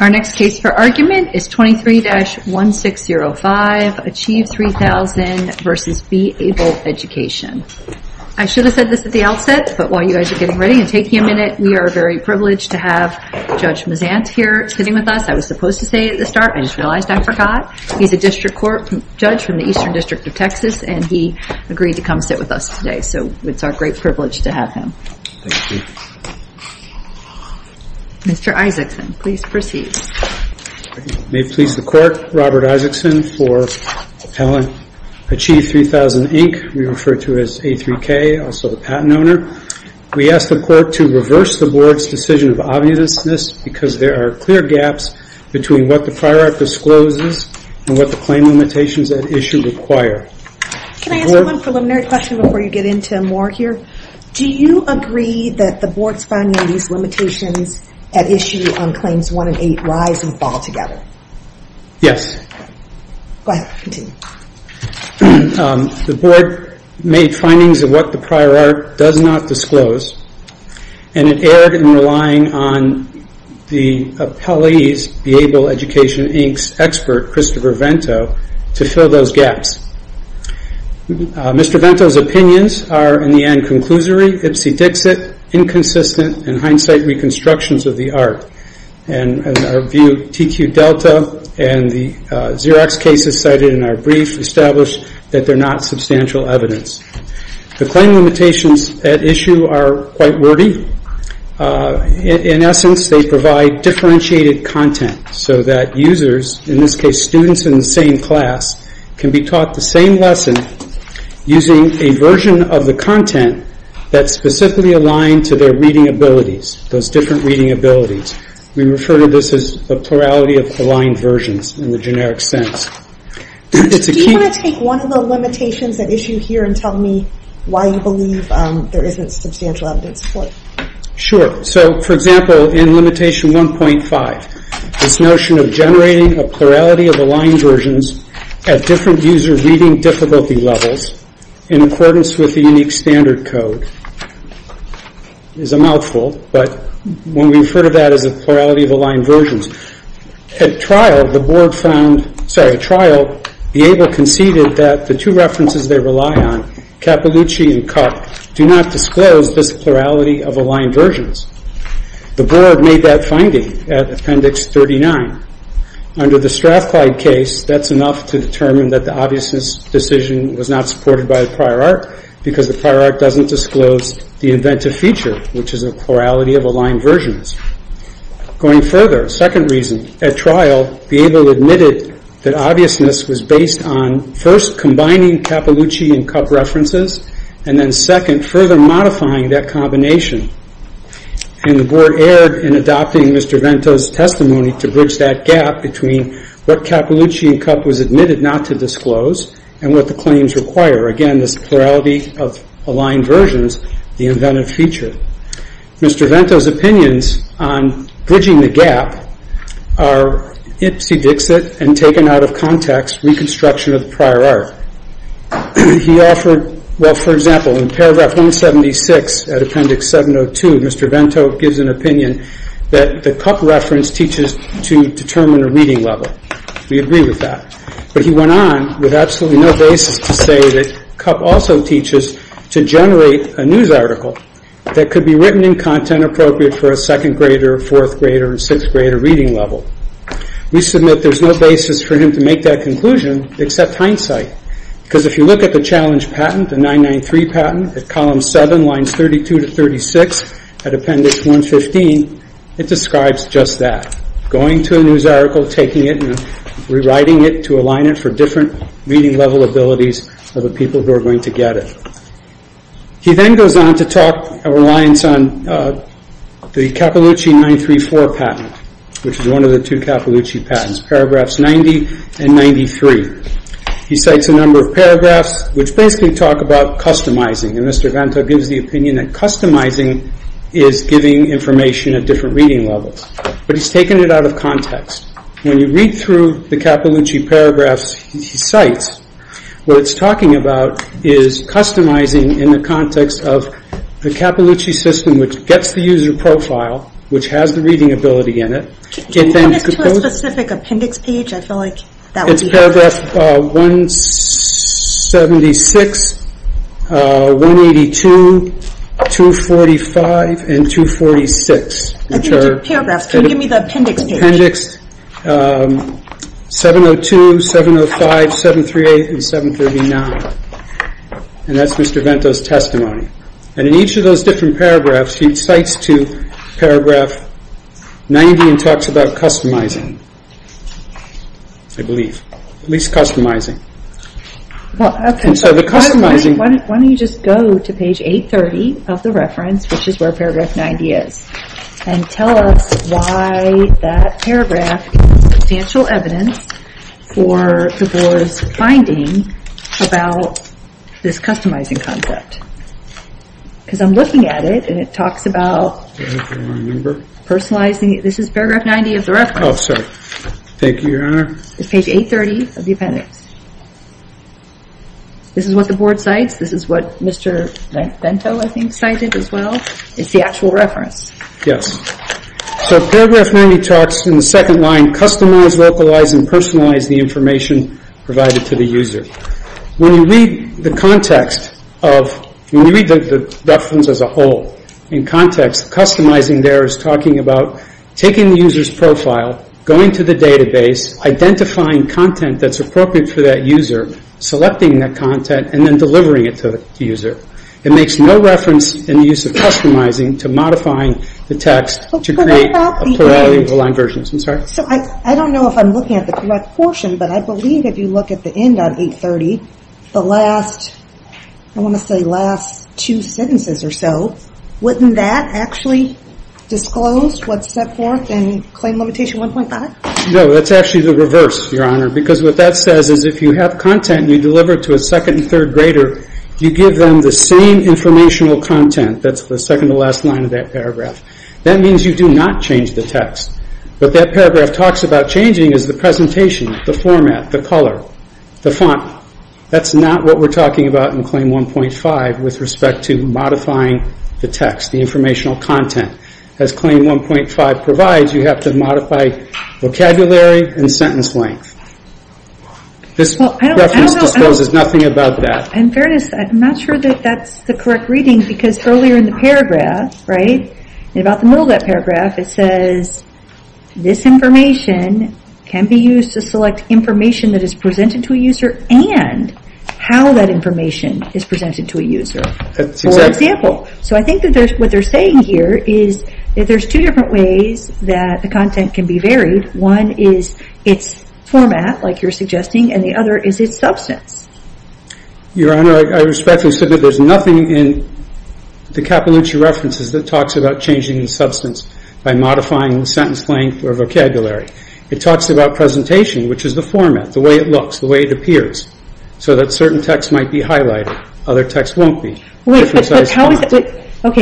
Our next case for argument is 23-1605, Achieve3000, Inc. v. Beable Education, Inc. I should have said this at the outset, but while you guys are getting ready and taking a minute, we are very privileged to have Judge Mazant here sitting with us. I was supposed to say it at the start, I just realized I forgot. He's a district court judge from the Eastern District of Texas, and he agreed to come sit with us today. So it's our great privilege to have him. Thank you. Mr. Isaacson, please proceed. May it please the Court, Robert Isaacson for Allen Achieve3000, Inc. We refer to it as A3K, also the patent owner. We ask the Court to reverse the Board's decision of obviousness because there are clear gaps between what the Fire Act discloses and what the claim limitations at issue require. Can I ask one preliminary question before you get into more here? Do you agree that the Board's finding of these limitations at issue on Claims 1 and 8 rise and fall together? Go ahead, continue. The Board made findings of what the prior art does not disclose, and it erred in relying on the appellee's Beable Education, Inc.'s expert, Christopher Vento, to fill those gaps. Mr. Vento's opinions are, in the end, conclusory, ipsy-dixit, inconsistent, and hindsight reconstructions of the art. As our view, TQ Delta and the Xerox cases cited in our brief establish that they're not substantial evidence. The claim limitations at issue are quite wordy. In essence, they provide differentiated content so that users, in this case students in the same class, can be taught the same lesson using a version of the content that's specifically aligned to their reading abilities, those different reading abilities. We refer to this as the plurality of aligned versions in the generic sense. Do you want to take one of the limitations at issue here and tell me why you believe there isn't substantial evidence for it? Sure. So, for example, in limitation 1.5, this notion of generating a plurality of aligned versions at different user reading difficulty levels in accordance with the unique standard code is a mouthful, but when we refer to that as a plurality of aligned versions, at trial, the board found, sorry, at trial, the ABLE conceded that the two references they rely on, Cappellucci and Cupp, do not disclose this plurality of aligned versions. The board made that finding at Appendix 39. Under the Strathclyde case, that's enough to determine that the obviousness decision was not supported by the prior art because the prior art doesn't disclose the inventive feature, which is a plurality of aligned versions. Going further, second reason, at trial, the ABLE admitted that obviousness was based on first combining Cappellucci and Cupp references, and then second, further modifying that combination. And the board erred in adopting Mr. Vento's testimony to bridge that gap between what Cappellucci and Cupp was admitted not to disclose and what the claims require. Again, this plurality of aligned versions, the inventive feature. Mr. Vento's opinions on bridging the gap are ipsy-dixit and taken out of context, reconstruction of the prior art. He offered, well, for example, in Paragraph 176 at Appendix 702, Mr. Vento gives an opinion that the Cupp reference teaches to determine a reading level. We agree with that. But he went on with absolutely no basis to say that Cupp also teaches to generate a news article that could be written in content appropriate for a second grader, fourth grader, or sixth grader reading level. We submit there's no basis for him to make that conclusion except hindsight. Because if you look at the challenge patent, the 993 patent, at Column 7, Lines 32 to 36 at Appendix 115, it describes just that. Going to a news article, taking it, and rewriting it to align it for different reading level abilities of the people who are going to get it. He then goes on to talk a reliance on the Cappellucci 934 patent, which is one of the two Cappellucci patents, Paragraphs 90 and 93. He cites a number of paragraphs which basically talk about customizing. And Mr. Vento gives the opinion that customizing is giving information at different reading levels. But he's taken it out of context. When you read through the Cappellucci paragraphs he cites, what it's talking about is customizing in the context of the Cappellucci system which gets the user profile, which has the reading ability in it. Can you give us a specific appendix page? It's paragraph 176, 182, 245, and 246. Can you give me the appendix page? Appendix 702, 705, 738, and 739. And that's Mr. Vento's testimony. And in each of those different paragraphs he cites to Paragraph 90 and talks about customizing, I believe. At least customizing. Why don't you just go to page 830 of the reference, which is where Paragraph 90 is, and tell us why that paragraph is substantial evidence for the Board's finding about this customizing concept. Because I'm looking at it and it talks about personalizing. This is Paragraph 90 of the reference. Oh, sorry. Thank you, Your Honor. It's page 830 of the appendix. This is what the Board cites. This is what Mr. Vento, I think, cited as well. It's the actual reference. Yes. So Paragraph 90 talks in the second line, customize, localize, and personalize the information provided to the user. When you read the context of, when you read the reference as a whole, in context, customizing there is talking about taking the user's profile, going to the database, identifying content that's appropriate for that user, selecting that content, and then delivering it to the It makes no reference in the use of customizing to modifying the text to create a plurality of aligned versions. I'm sorry? I don't know if I'm looking at the correct portion, but I believe if you look at the end on 830, the last, I want to say last two sentences or so, wouldn't that actually disclose what's set forth in Claim Limitation 1.5? No, that's actually the reverse, Your Honor, because what that says is if you have content you deliver to a second and third grader, you give them the same informational content, that's the second to last line of that paragraph. That means you do not change the text. What that paragraph talks about changing is the presentation, the format, the color, the font. That's not what we're talking about in Claim 1.5 with respect to modifying the text, the informational content. As Claim 1.5 provides, you have to modify vocabulary and sentence length. This reference discloses nothing about that. In fairness, I'm not sure that that's the correct reading because earlier in the paragraph, right, about the middle of that paragraph, it says this information can be used to select information that is presented to a user and how that information is presented to a user. For example, so I think what they're saying here is that there's two different ways that the content can be varied. One is its format, like you're suggesting, and the other is its substance. Your Honor, I respectfully submit there's nothing in the Cappellucci references that talks about changing the substance by modifying the sentence length or vocabulary. It talks about presentation, which is the format, the way it looks, the way it appears, so that certain texts might be highlighted, other texts won't be. Okay,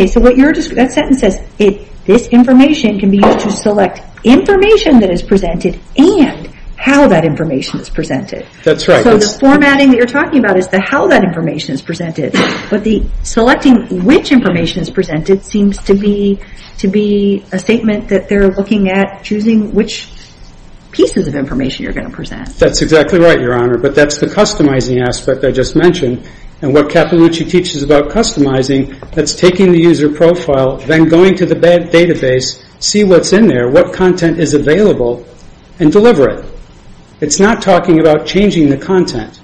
so that sentence says this information can be used to select information that is presented and how that information is presented. That's right. So the formatting that you're talking about is how that information is presented, but selecting which information is presented seems to be a statement that they're looking at choosing which pieces of information you're going to present. That's exactly right, Your Honor, but that's the customizing aspect I just mentioned. What Cappellucci teaches about customizing, that's taking the user profile, then going to the database, see what's in there, what content is available, and deliver it. It's not talking about changing the content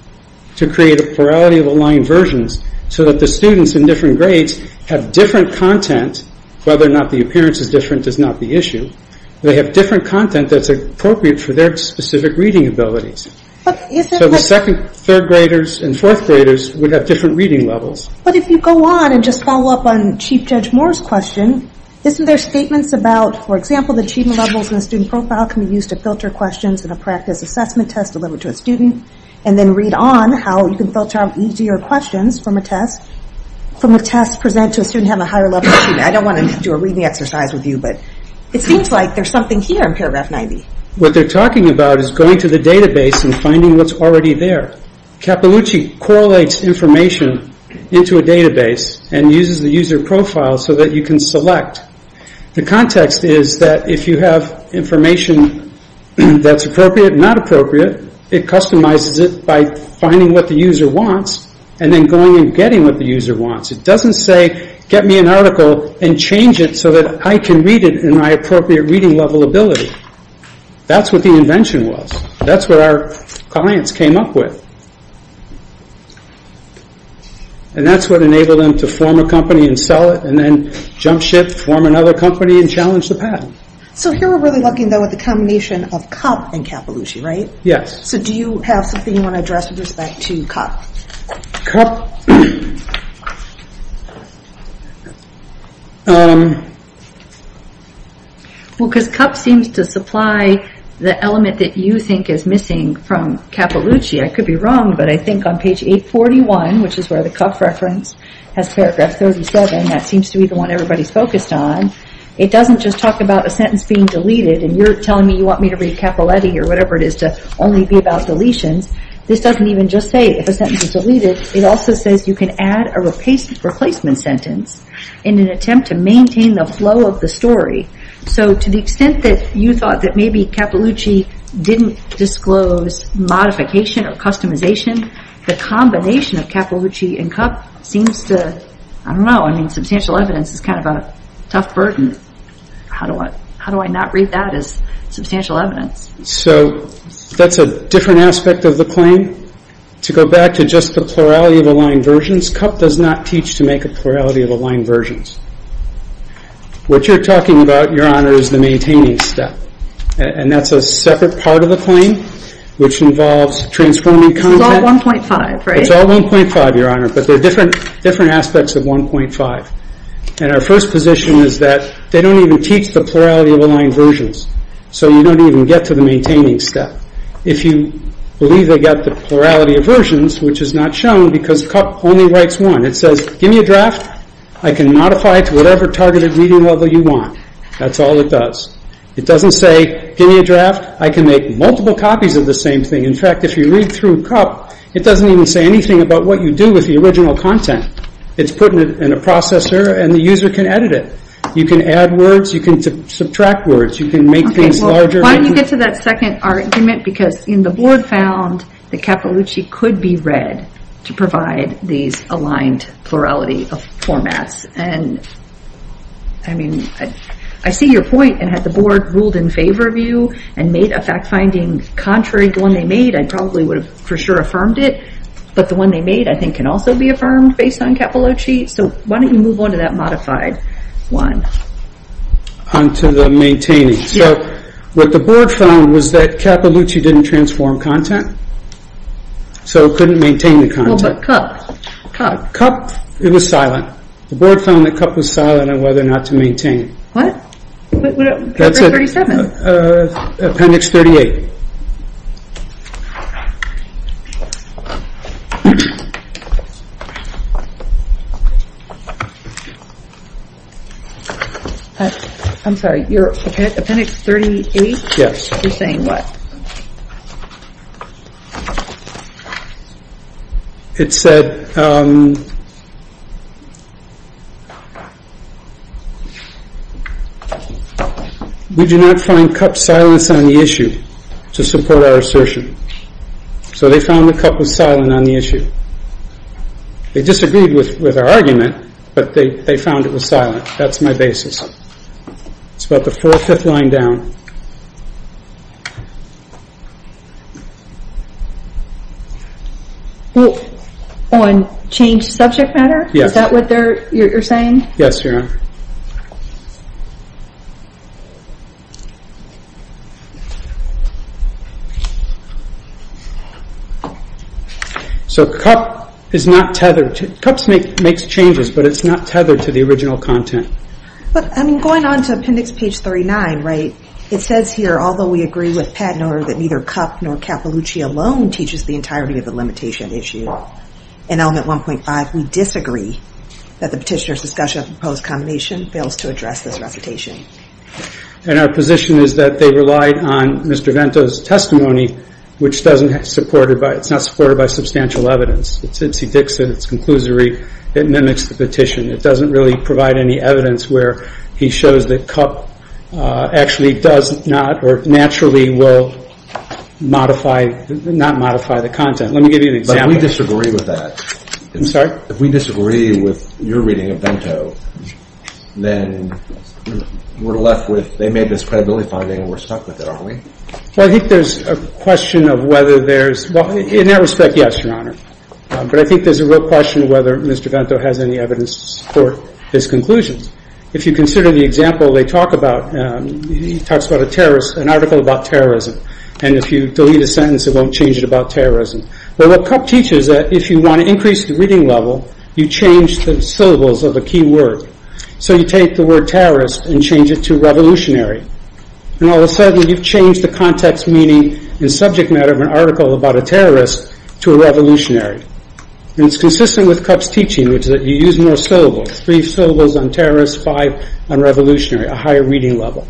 to create a plurality of aligned versions so that the students in different grades have different content, whether or not the appearance is different does not be an issue. They have different content that's appropriate for their specific reading abilities. So the second, third graders, and fourth graders would have different reading levels. But if you go on and just follow up on Chief Judge Moore's question, isn't there statements about, for example, the achievement levels in the student profile can be used to filter questions in a practice assessment test delivered to a student, and then read on how you can filter out easier questions from a test, from a test presented to a student who has a higher level achievement. I don't want to do a reading exercise with you, but it seems like there's something here in paragraph 90. What they're talking about is going to the database and finding what's already there. Cappellucci correlates information into a database and uses the user profile so that you can select. The context is that if you have information that's appropriate and not appropriate, it customizes it by finding what the user wants and then going and getting what the user wants. It doesn't say, get me an article and change it so that I can read it in my appropriate reading level ability. That's what the invention was. That's what our clients came up with. And that's what enabled them to form a company and sell it, and then jump ship, form another company, and challenge the patent. So here we're really looking at the combination of COP and Cappellucci, right? Yes. So do you have something you want to address with respect to COP? COP... Well, because COP seems to supply the element that you think is missing from Cappellucci. I could be wrong, but I think on page 841, which is where the COP reference has paragraph 37, that seems to be the one everybody's focused on. It doesn't just talk about a sentence being deleted and you're telling me you want me to read Cappelletti or whatever it is to only be about deletions. This doesn't even just say if a sentence is deleted. It also says you can add a replacement sentence in an attempt to maintain the flow of the story. So to the extent that you thought that maybe Cappellucci didn't disclose modification or customization, the combination of Cappellucci and COP seems to... I don't know. Substantial evidence is kind of a tough burden. How do I not read that as substantial evidence? So that's a different aspect of the claim. To go back to just the plurality of aligned versions, COP does not teach to make a plurality of aligned versions. What you're talking about, Your Honor, is the maintaining step. And that's a separate part of the claim, which involves transforming content. It's all 1.5, right? It's all 1.5, Your Honor, but there are different aspects of 1.5. And our first position is that they don't even teach the plurality of aligned versions. So you don't even get to the maintaining step. If you believe they got the plurality of versions, which is not shown because COP only writes one. It says, give me a draft. I can modify it to whatever targeted reading level you want. That's all it does. It doesn't say, give me a draft. I can make multiple copies of the same thing. In fact, if you read through COP, it doesn't even say anything about what you do with the original content. It's put in a processor and the user can edit it. You can add words. You can subtract words. You can make things larger. Why don't you get to that second argument? Because the board found that Cappellucci could be read to provide these aligned plurality formats. And I mean, I see your point. And had the board ruled in favor of you and made a fact finding contrary to the one they made, I probably would have for sure affirmed it. But the one they made, I think, can also be affirmed based on Cappellucci. So why don't you move on to that modified one? On to the maintaining. What the board found was that Cappellucci didn't transform content, so it couldn't maintain the content. Cup. Cup. Cup, it was silent. The board found that Cup was silent on whether or not to maintain it. What? What about paper 37? Appendix 38. I'm sorry, your appendix 38? Yes. You're saying what? It said, we do not find Cup's silence on the issue to support our assertion. So they found that Cup was silent on the issue. They disagreed with our argument, but they found it was silent. That's my basis. It's about the fourth or fifth line down. On changed subject matter? Yes. Is that what you're saying? Yes. Thank you, Sarah. So Cup is not tethered. Cup makes changes, but it's not tethered to the original content. I'm going on to appendix page 39, right? It says here, although we agree with Padnor that neither Cup nor Cappellucci alone teaches the entirety of the limitation issue in element 1.5, we disagree that the petitioner's discussion of the proposed combination fails to address this recitation. And our position is that they relied on Mr. Vento's testimony, which is not supported by substantial evidence. It's Ibsi-Dixon. It's conclusory. It mimics the petition. It doesn't really provide any evidence where he shows that Cup actually does not or naturally will not modify the content. Let me give you an example. But we disagree with that. I'm sorry? If we disagree with your reading of Vento, then we're left with, they made this credibility finding and we're stuck with it, aren't we? Well, I think there's a question of whether there's, well, in that respect, yes, Your Honor. But I think there's a real question of whether Mr. Vento has any evidence to support his conclusions. If you consider the example they talk about, he talks about a terrorist, an article about terrorism. And if you delete a sentence, it won't change it about terrorism. Well, what Cup teaches is that if you want to increase the reading level, you change the syllables of a key word. So you take the word terrorist and change it to revolutionary. And all of a sudden, you've changed the context, meaning, and subject matter of an article about a terrorist to a revolutionary. And it's consistent with Cup's teaching, which is that you use more syllables, three syllables on terrorist, five on revolutionary, a higher reading level.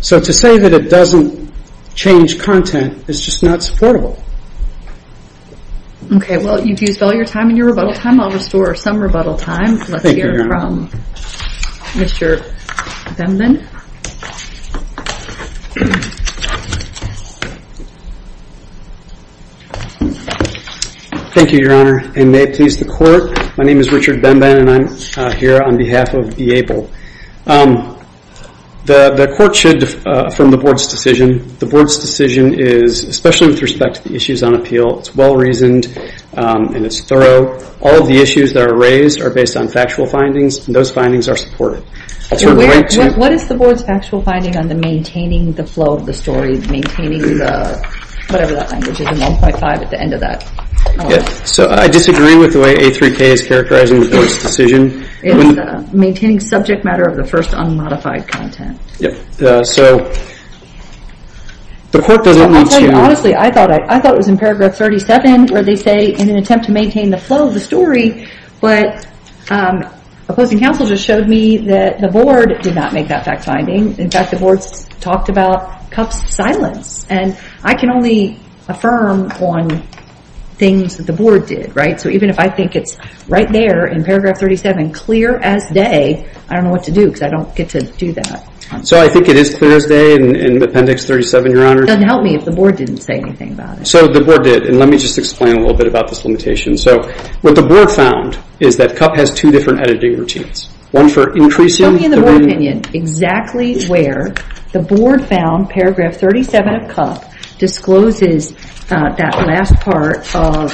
So to say that it doesn't change content is just not supportable. Okay, well, you've used up all your time and your rebuttal time. I'll restore some rebuttal time. Let's hear from Mr. Bemben. Thank you, Your Honor. And may it please the Court, my name is Richard Bemben, and I'm here on behalf of D'Abel. The Court should, from the Board's decision, the Board's decision is, especially with respect to the issues on appeal, it's well-reasoned and it's thorough. All of the issues that are raised are based on factual findings, and those findings are supported. What is the Board's factual finding on the maintaining the flow of the story, maintaining the, whatever that language is, the 1.5 at the end of that? So I disagree with the way A3K is characterizing the Board's decision. It's maintaining subject matter of the first unmodified content. So the Court doesn't want to. Honestly, I thought it was in paragraph 37 where they say, in an attempt to maintain the flow of the story, but opposing counsel just showed me that the Board did not make that fact finding. In fact, the Board's talked about Cupp's silence, and I can only affirm on things that the Board did, right? So even if I think it's right there in paragraph 37, clear as day, I don't know what to do because I don't get to do that. So I think it is clear as day in appendix 37, Your Honor. It doesn't help me if the Board didn't say anything about it. So the Board did, and let me just explain a little bit about this limitation. So what the Board found is that Cupp has two different editing routines, one for increasing the reading. Show me in the Board opinion exactly where the Board found paragraph 37 of Cupp discloses that last part of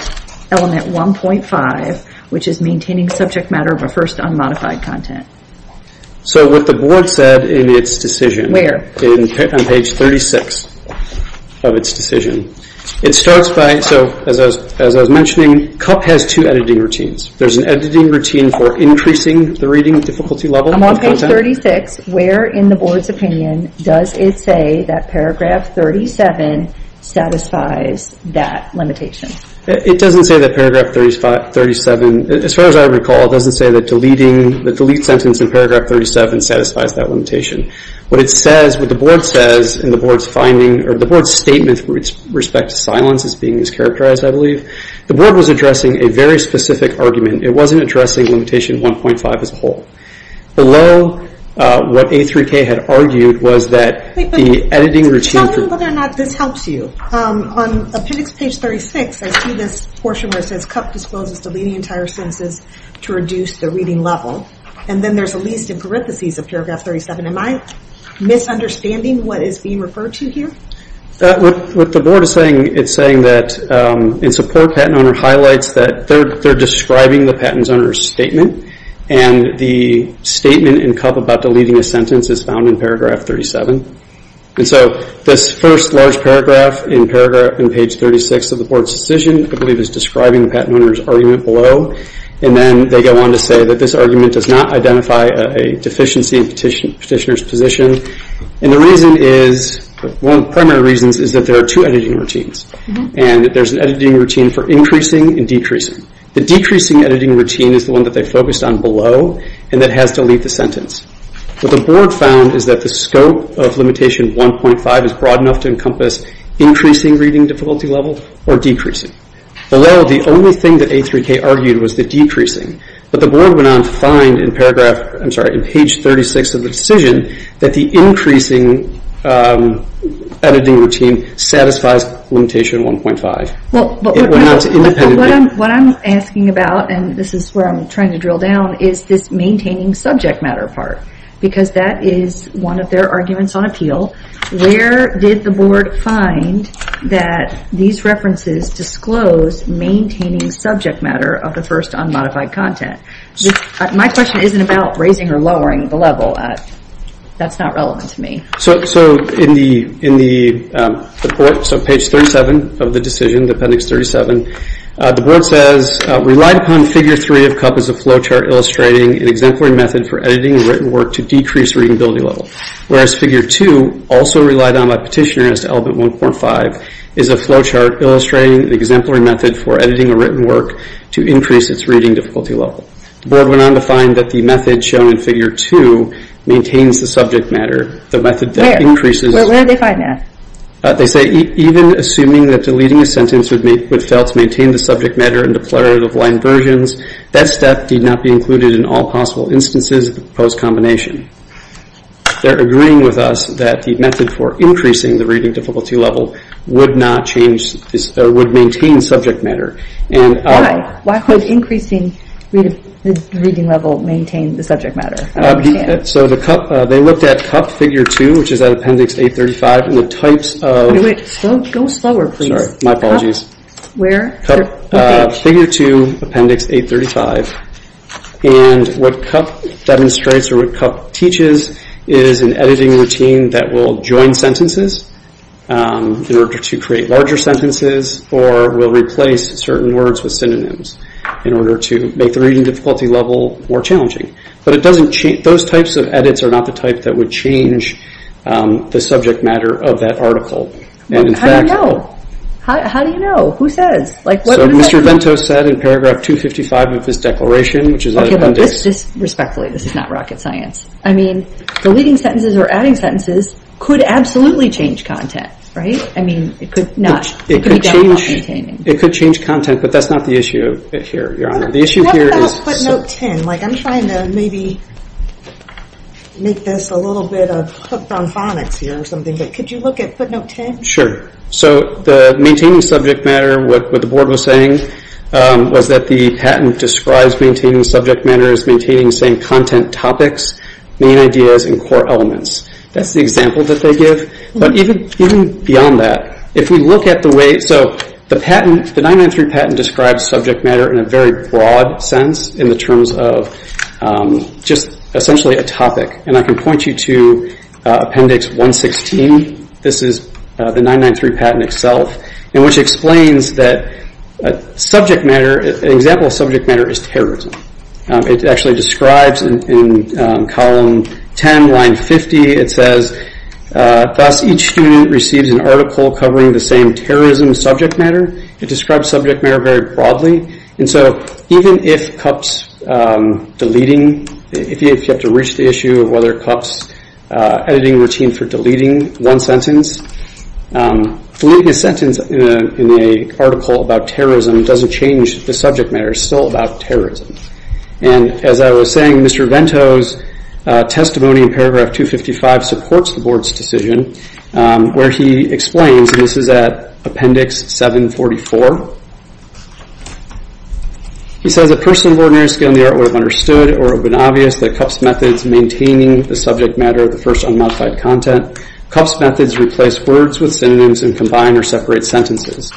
element 1.5, which is maintaining subject matter refers to unmodified content. So what the Board said in its decision. Where? On page 36 of its decision. It starts by, so as I was mentioning, Cupp has two editing routines. There's an editing routine for increasing the reading difficulty level. I'm on page 36. Where in the Board's opinion does it say that paragraph 37 satisfies that limitation? It doesn't say that paragraph 37, as far as I recall, it doesn't say that deleting the delete sentence in paragraph 37 satisfies that limitation. What it says, what the Board says in the Board's finding, or the Board's statement with respect to silence is being mischaracterized, I believe. The Board was addressing a very specific argument. It wasn't addressing limitation 1.5 as a whole. Below what A3K had argued was that the editing routine. Tell me whether or not this helps you. On appendix page 36, I see this portion where it says, Cupp discloses deleting entire sentences to reduce the reading level. And then there's a least in parentheses of paragraph 37. Am I misunderstanding what is being referred to here? What the Board is saying, it's saying that in support, Patent Owner highlights that they're describing the Patent Owner's statement. And the statement in Cupp about deleting a sentence is found in paragraph 37. And so this first large paragraph in page 36 of the Board's decision, I believe, is describing the Patent Owner's argument below. And then they go on to say that this argument does not identify a deficiency in petitioner's position. And the reason is, one of the primary reasons is that there are two editing routines. And there's an editing routine for increasing and decreasing. The decreasing editing routine is the one that they focused on below, and that has to delete the sentence. What the Board found is that the scope of limitation 1.5 is broad enough to encompass increasing reading difficulty level or decreasing. Below, the only thing that A3K argued was the decreasing. But the Board went on to find in paragraph, I'm sorry, in page 36 of the decision, that the increasing editing routine satisfies limitation 1.5. What I'm asking about, and this is where I'm trying to drill down, is this maintaining subject matter part. Because that is one of their arguments on appeal. Where did the Board find that these references disclose maintaining subject matter of the first unmodified content? My question isn't about raising or lowering the level. That's not relevant to me. So in the report, so page 37 of the decision, appendix 37, the Board says, relied upon figure 3 of CUP as a flowchart illustrating an exemplary method for editing a written work to decrease reading ability level. Whereas figure 2, also relied on by petitioner as to element 1.5, is a flowchart illustrating an exemplary method for editing a written work to increase its reading difficulty level. The Board went on to find that the method shown in figure 2 maintains the subject matter. Where? Where did they find that? They say, even assuming that deleting a sentence would fail to maintain the subject matter in declarative line versions, that step need not be included in all possible instances of the proposed combination. They're agreeing with us that the method for increasing the reading difficulty level would maintain subject matter. Why? Why would increasing the reading level maintain the subject matter? So the CUP, they looked at CUP figure 2, which is at appendix 835, and the types of... Go slower, please. Sorry, my apologies. Where? Figure 2, appendix 835. And what CUP demonstrates or what CUP teaches is an editing routine that will join sentences in order to create larger sentences or will replace certain words with synonyms in order to make the reading difficulty level more challenging. But it doesn't change... Those types of edits are not the type that would change the subject matter of that article. And in fact... How do you know? How do you know? Who says? So Mr. Vento said in paragraph 255 of his declaration, which is at appendix... Okay, look, respectfully, this is not rocket science. I mean, deleting sentences or adding sentences could absolutely change content, right? I mean, it could not. It could change content, but that's not the issue here, Your Honor. The issue here is... I'm trying to maybe make this a little bit of hook-down phonics here or something, but could you look at footnote 10? Sure. So the maintaining subject matter, what the board was saying, was that the patent describes maintaining subject matter as maintaining the same content topics, main ideas, and core elements. That's the example that they give. But even beyond that, if we look at the way... So the 993 patent describes subject matter in a very broad sense in the terms of just essentially a topic. And I can point you to appendix 116. This is the 993 patent itself, which explains that subject matter, an example of subject matter, is terrorism. It actually describes in column 10, line 50, it says, Thus, each student receives an article covering the same terrorism subject matter. It describes subject matter very broadly. And so even if Cupp's deleting, if you have to reach the issue of whether Cupp's editing routine for deleting one sentence, deleting a sentence in an article about terrorism doesn't change the subject matter. It's still about terrorism. And as I was saying, Mr. Vento's testimony in paragraph 255 supports the board's decision, where he explains, and this is at appendix 744. He says, A person of ordinary skill in the art would have understood or been obvious that Cupp's methods maintaining the subject matter of the first unmodified content. Cupp's methods replace words with synonyms and combine or separate sentences.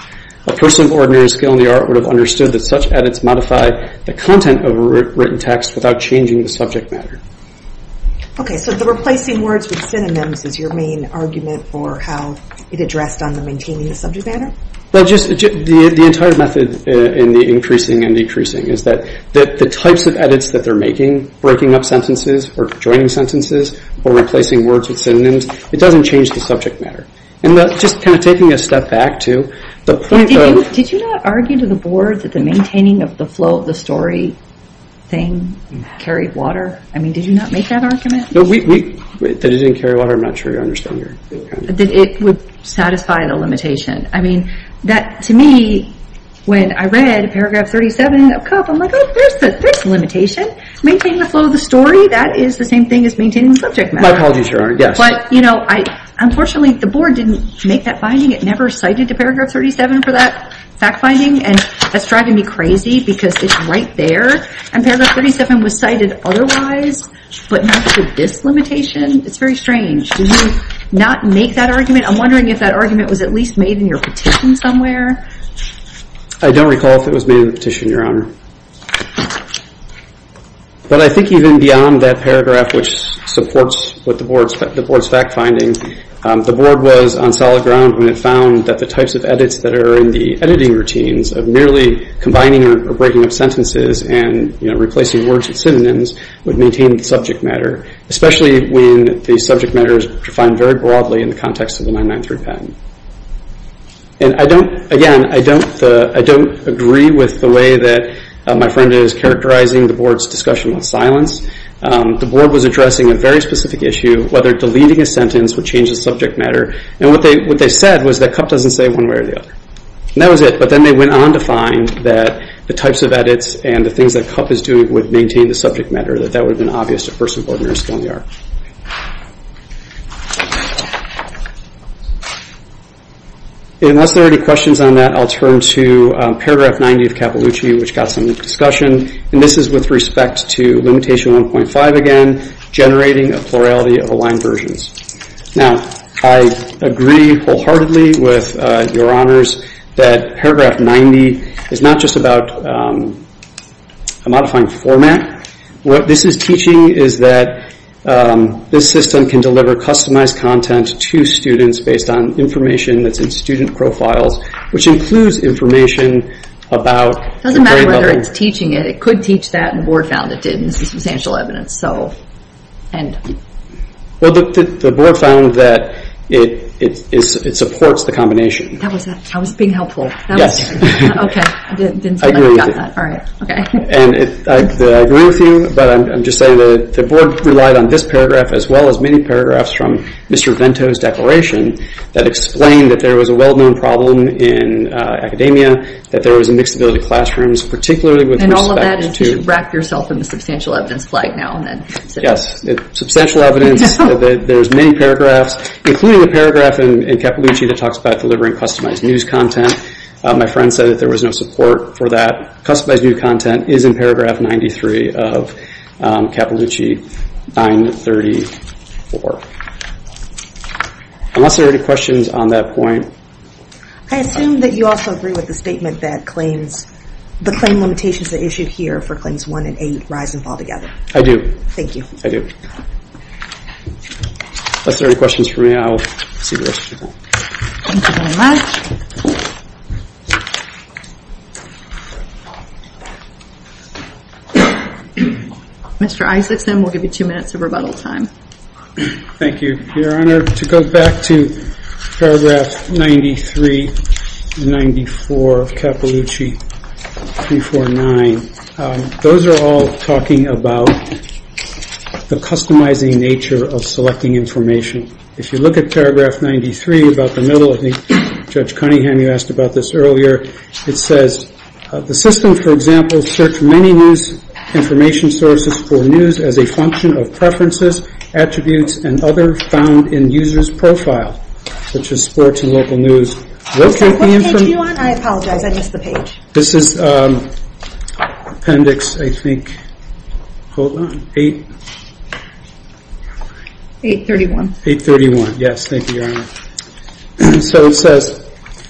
A person of ordinary skill in the art would have understood that such edits modify the content of a written text without changing the subject matter. Okay, so the replacing words with synonyms is your main argument for how it addressed on the maintaining the subject matter? The entire method in the increasing and decreasing is that the types of edits that they're making, breaking up sentences or joining sentences or replacing words with synonyms, it doesn't change the subject matter. And just kind of taking a step back to the point that Did you not argue to the board that the maintaining of the flow of the story thing carried water? I mean, did you not make that argument? That it didn't carry water, I'm not sure I understand your comment. That it would satisfy the limitation. I mean, that to me, when I read paragraph 37 of Cupp, I'm like, Oh, there's the limitation. Maintaining the flow of the story, that is the same thing as maintaining the subject matter. My apologies, Your Honor, yes. But, you know, unfortunately the board didn't make that finding. It never cited to paragraph 37 for that fact finding. And that's driving me crazy because it's right there. And paragraph 37 was cited otherwise, but not to this limitation. It's very strange. Did you not make that argument? I'm wondering if that argument was at least made in your petition somewhere. I don't recall if it was made in the petition, Your Honor. But I think even beyond that paragraph, which supports the board's fact finding, the board was on solid ground when it found that the types of edits that are in the editing routines of merely combining or breaking up sentences and replacing words with synonyms would maintain the subject matter, especially when the subject matter is defined very broadly in the context of the 993 patent. And I don't, again, I don't agree with the way that my friend is characterizing the board's discussion with silence. The board was addressing a very specific issue, whether deleting a sentence would change the subject matter. And what they said was that Cupp doesn't say one way or the other. And that was it. But then they went on to find that the types of edits and the things that Cupp is doing would maintain the subject matter, that that would have been obvious to a person of ordinary skill in the art. Unless there are any questions on that, I'll turn to paragraph 90 of Cappellucci, which got some discussion. And this is with respect to limitation 1.5 again, generating a plurality of aligned versions. Now, I agree wholeheartedly with your honors that paragraph 90 is not just about a modifying format. What this is teaching is that this system can deliver customized content to students based on information that's in student profiles, which includes information about It doesn't matter whether it's teaching it. It could teach that, and the board found it didn't. This is substantial evidence. Well, the board found that it supports the combination. That was being helpful. Okay. I didn't say I forgot that. Okay. And I agree with you, but I'm just saying that the board relied on this paragraph as well as many paragraphs from Mr. Vento's declaration that explained that there was a well-known problem in academia, that there was a mixed ability in classrooms, particularly with respect to You should wrap yourself in the substantial evidence flag now and then. Yes. Substantial evidence. There's many paragraphs, including a paragraph in Cappellucci that talks about delivering customized news content. My friend said that there was no support for that. Customized news content is in paragraph 93 of Cappellucci 934. Unless there are any questions on that point. I assume that you also agree with the statement that claims the claim limitations that are issued here for claims 1 and 8 rise and fall together. I do. Thank you. I do. Unless there are any questions for me, I'll see the rest of you then. Thank you very much. Mr. Isakson, we'll give you two minutes of rebuttal time. Thank you, Your Honor. To go back to paragraph 93 and 94 of Cappellucci 349, those are all talking about the customizing nature of selecting information. If you look at paragraph 93, about the middle, Judge Cunningham, you asked about this earlier, it says, the system, for example, search many news information sources for news as a function of preferences, attributes, and other found in user's profile, such as sports and local news. What page are you on? I apologize, I missed the page. This is appendix, I think, hold on, 8... 831. 831, yes, thank you, Your Honor. So it says,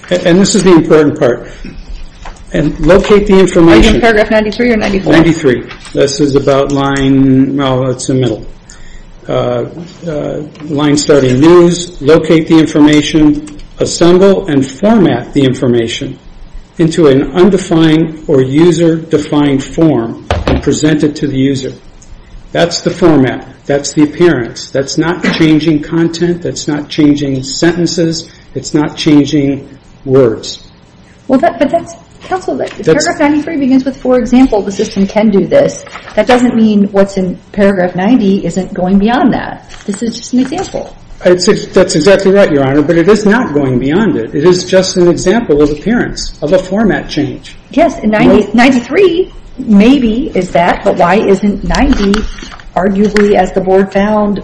and this is the important part, locate the information... Are you in paragraph 93 or 94? 93. This is about line, well, it's the middle. Line starting news, locate the information, assemble and format the information into an undefined or user-defined form and present it to the user. That's the format. That's the appearance. That's not changing content. That's not changing sentences. It's not changing words. But that's... Paragraph 93 begins with, for example, the system can do this. That doesn't mean what's in paragraph 90 isn't going beyond that. This is just an example. That's exactly right, Your Honor, but it is not going beyond it. It is just an example of appearance, of a format change. Yes, and 93 maybe is that, but why isn't 90 arguably, as the board found,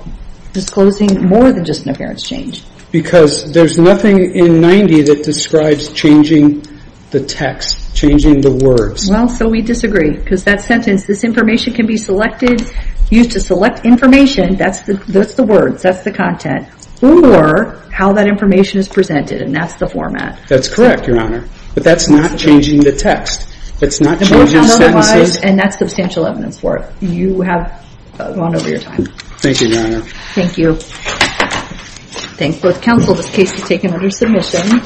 disclosing more than just an appearance change? Because there's nothing in 90 that describes changing the text, changing the words. Well, so we disagree, because that sentence, this information can be selected, used to select information, that's the words, that's the content, or how that information is presented, and that's the format. That's correct, Your Honor, but that's not changing the text. It's not changing sentences. And that's substantial evidence for it. You have gone over your time. Thank you, Your Honor. Thank you. Thank both counsel. This case is taken under submission.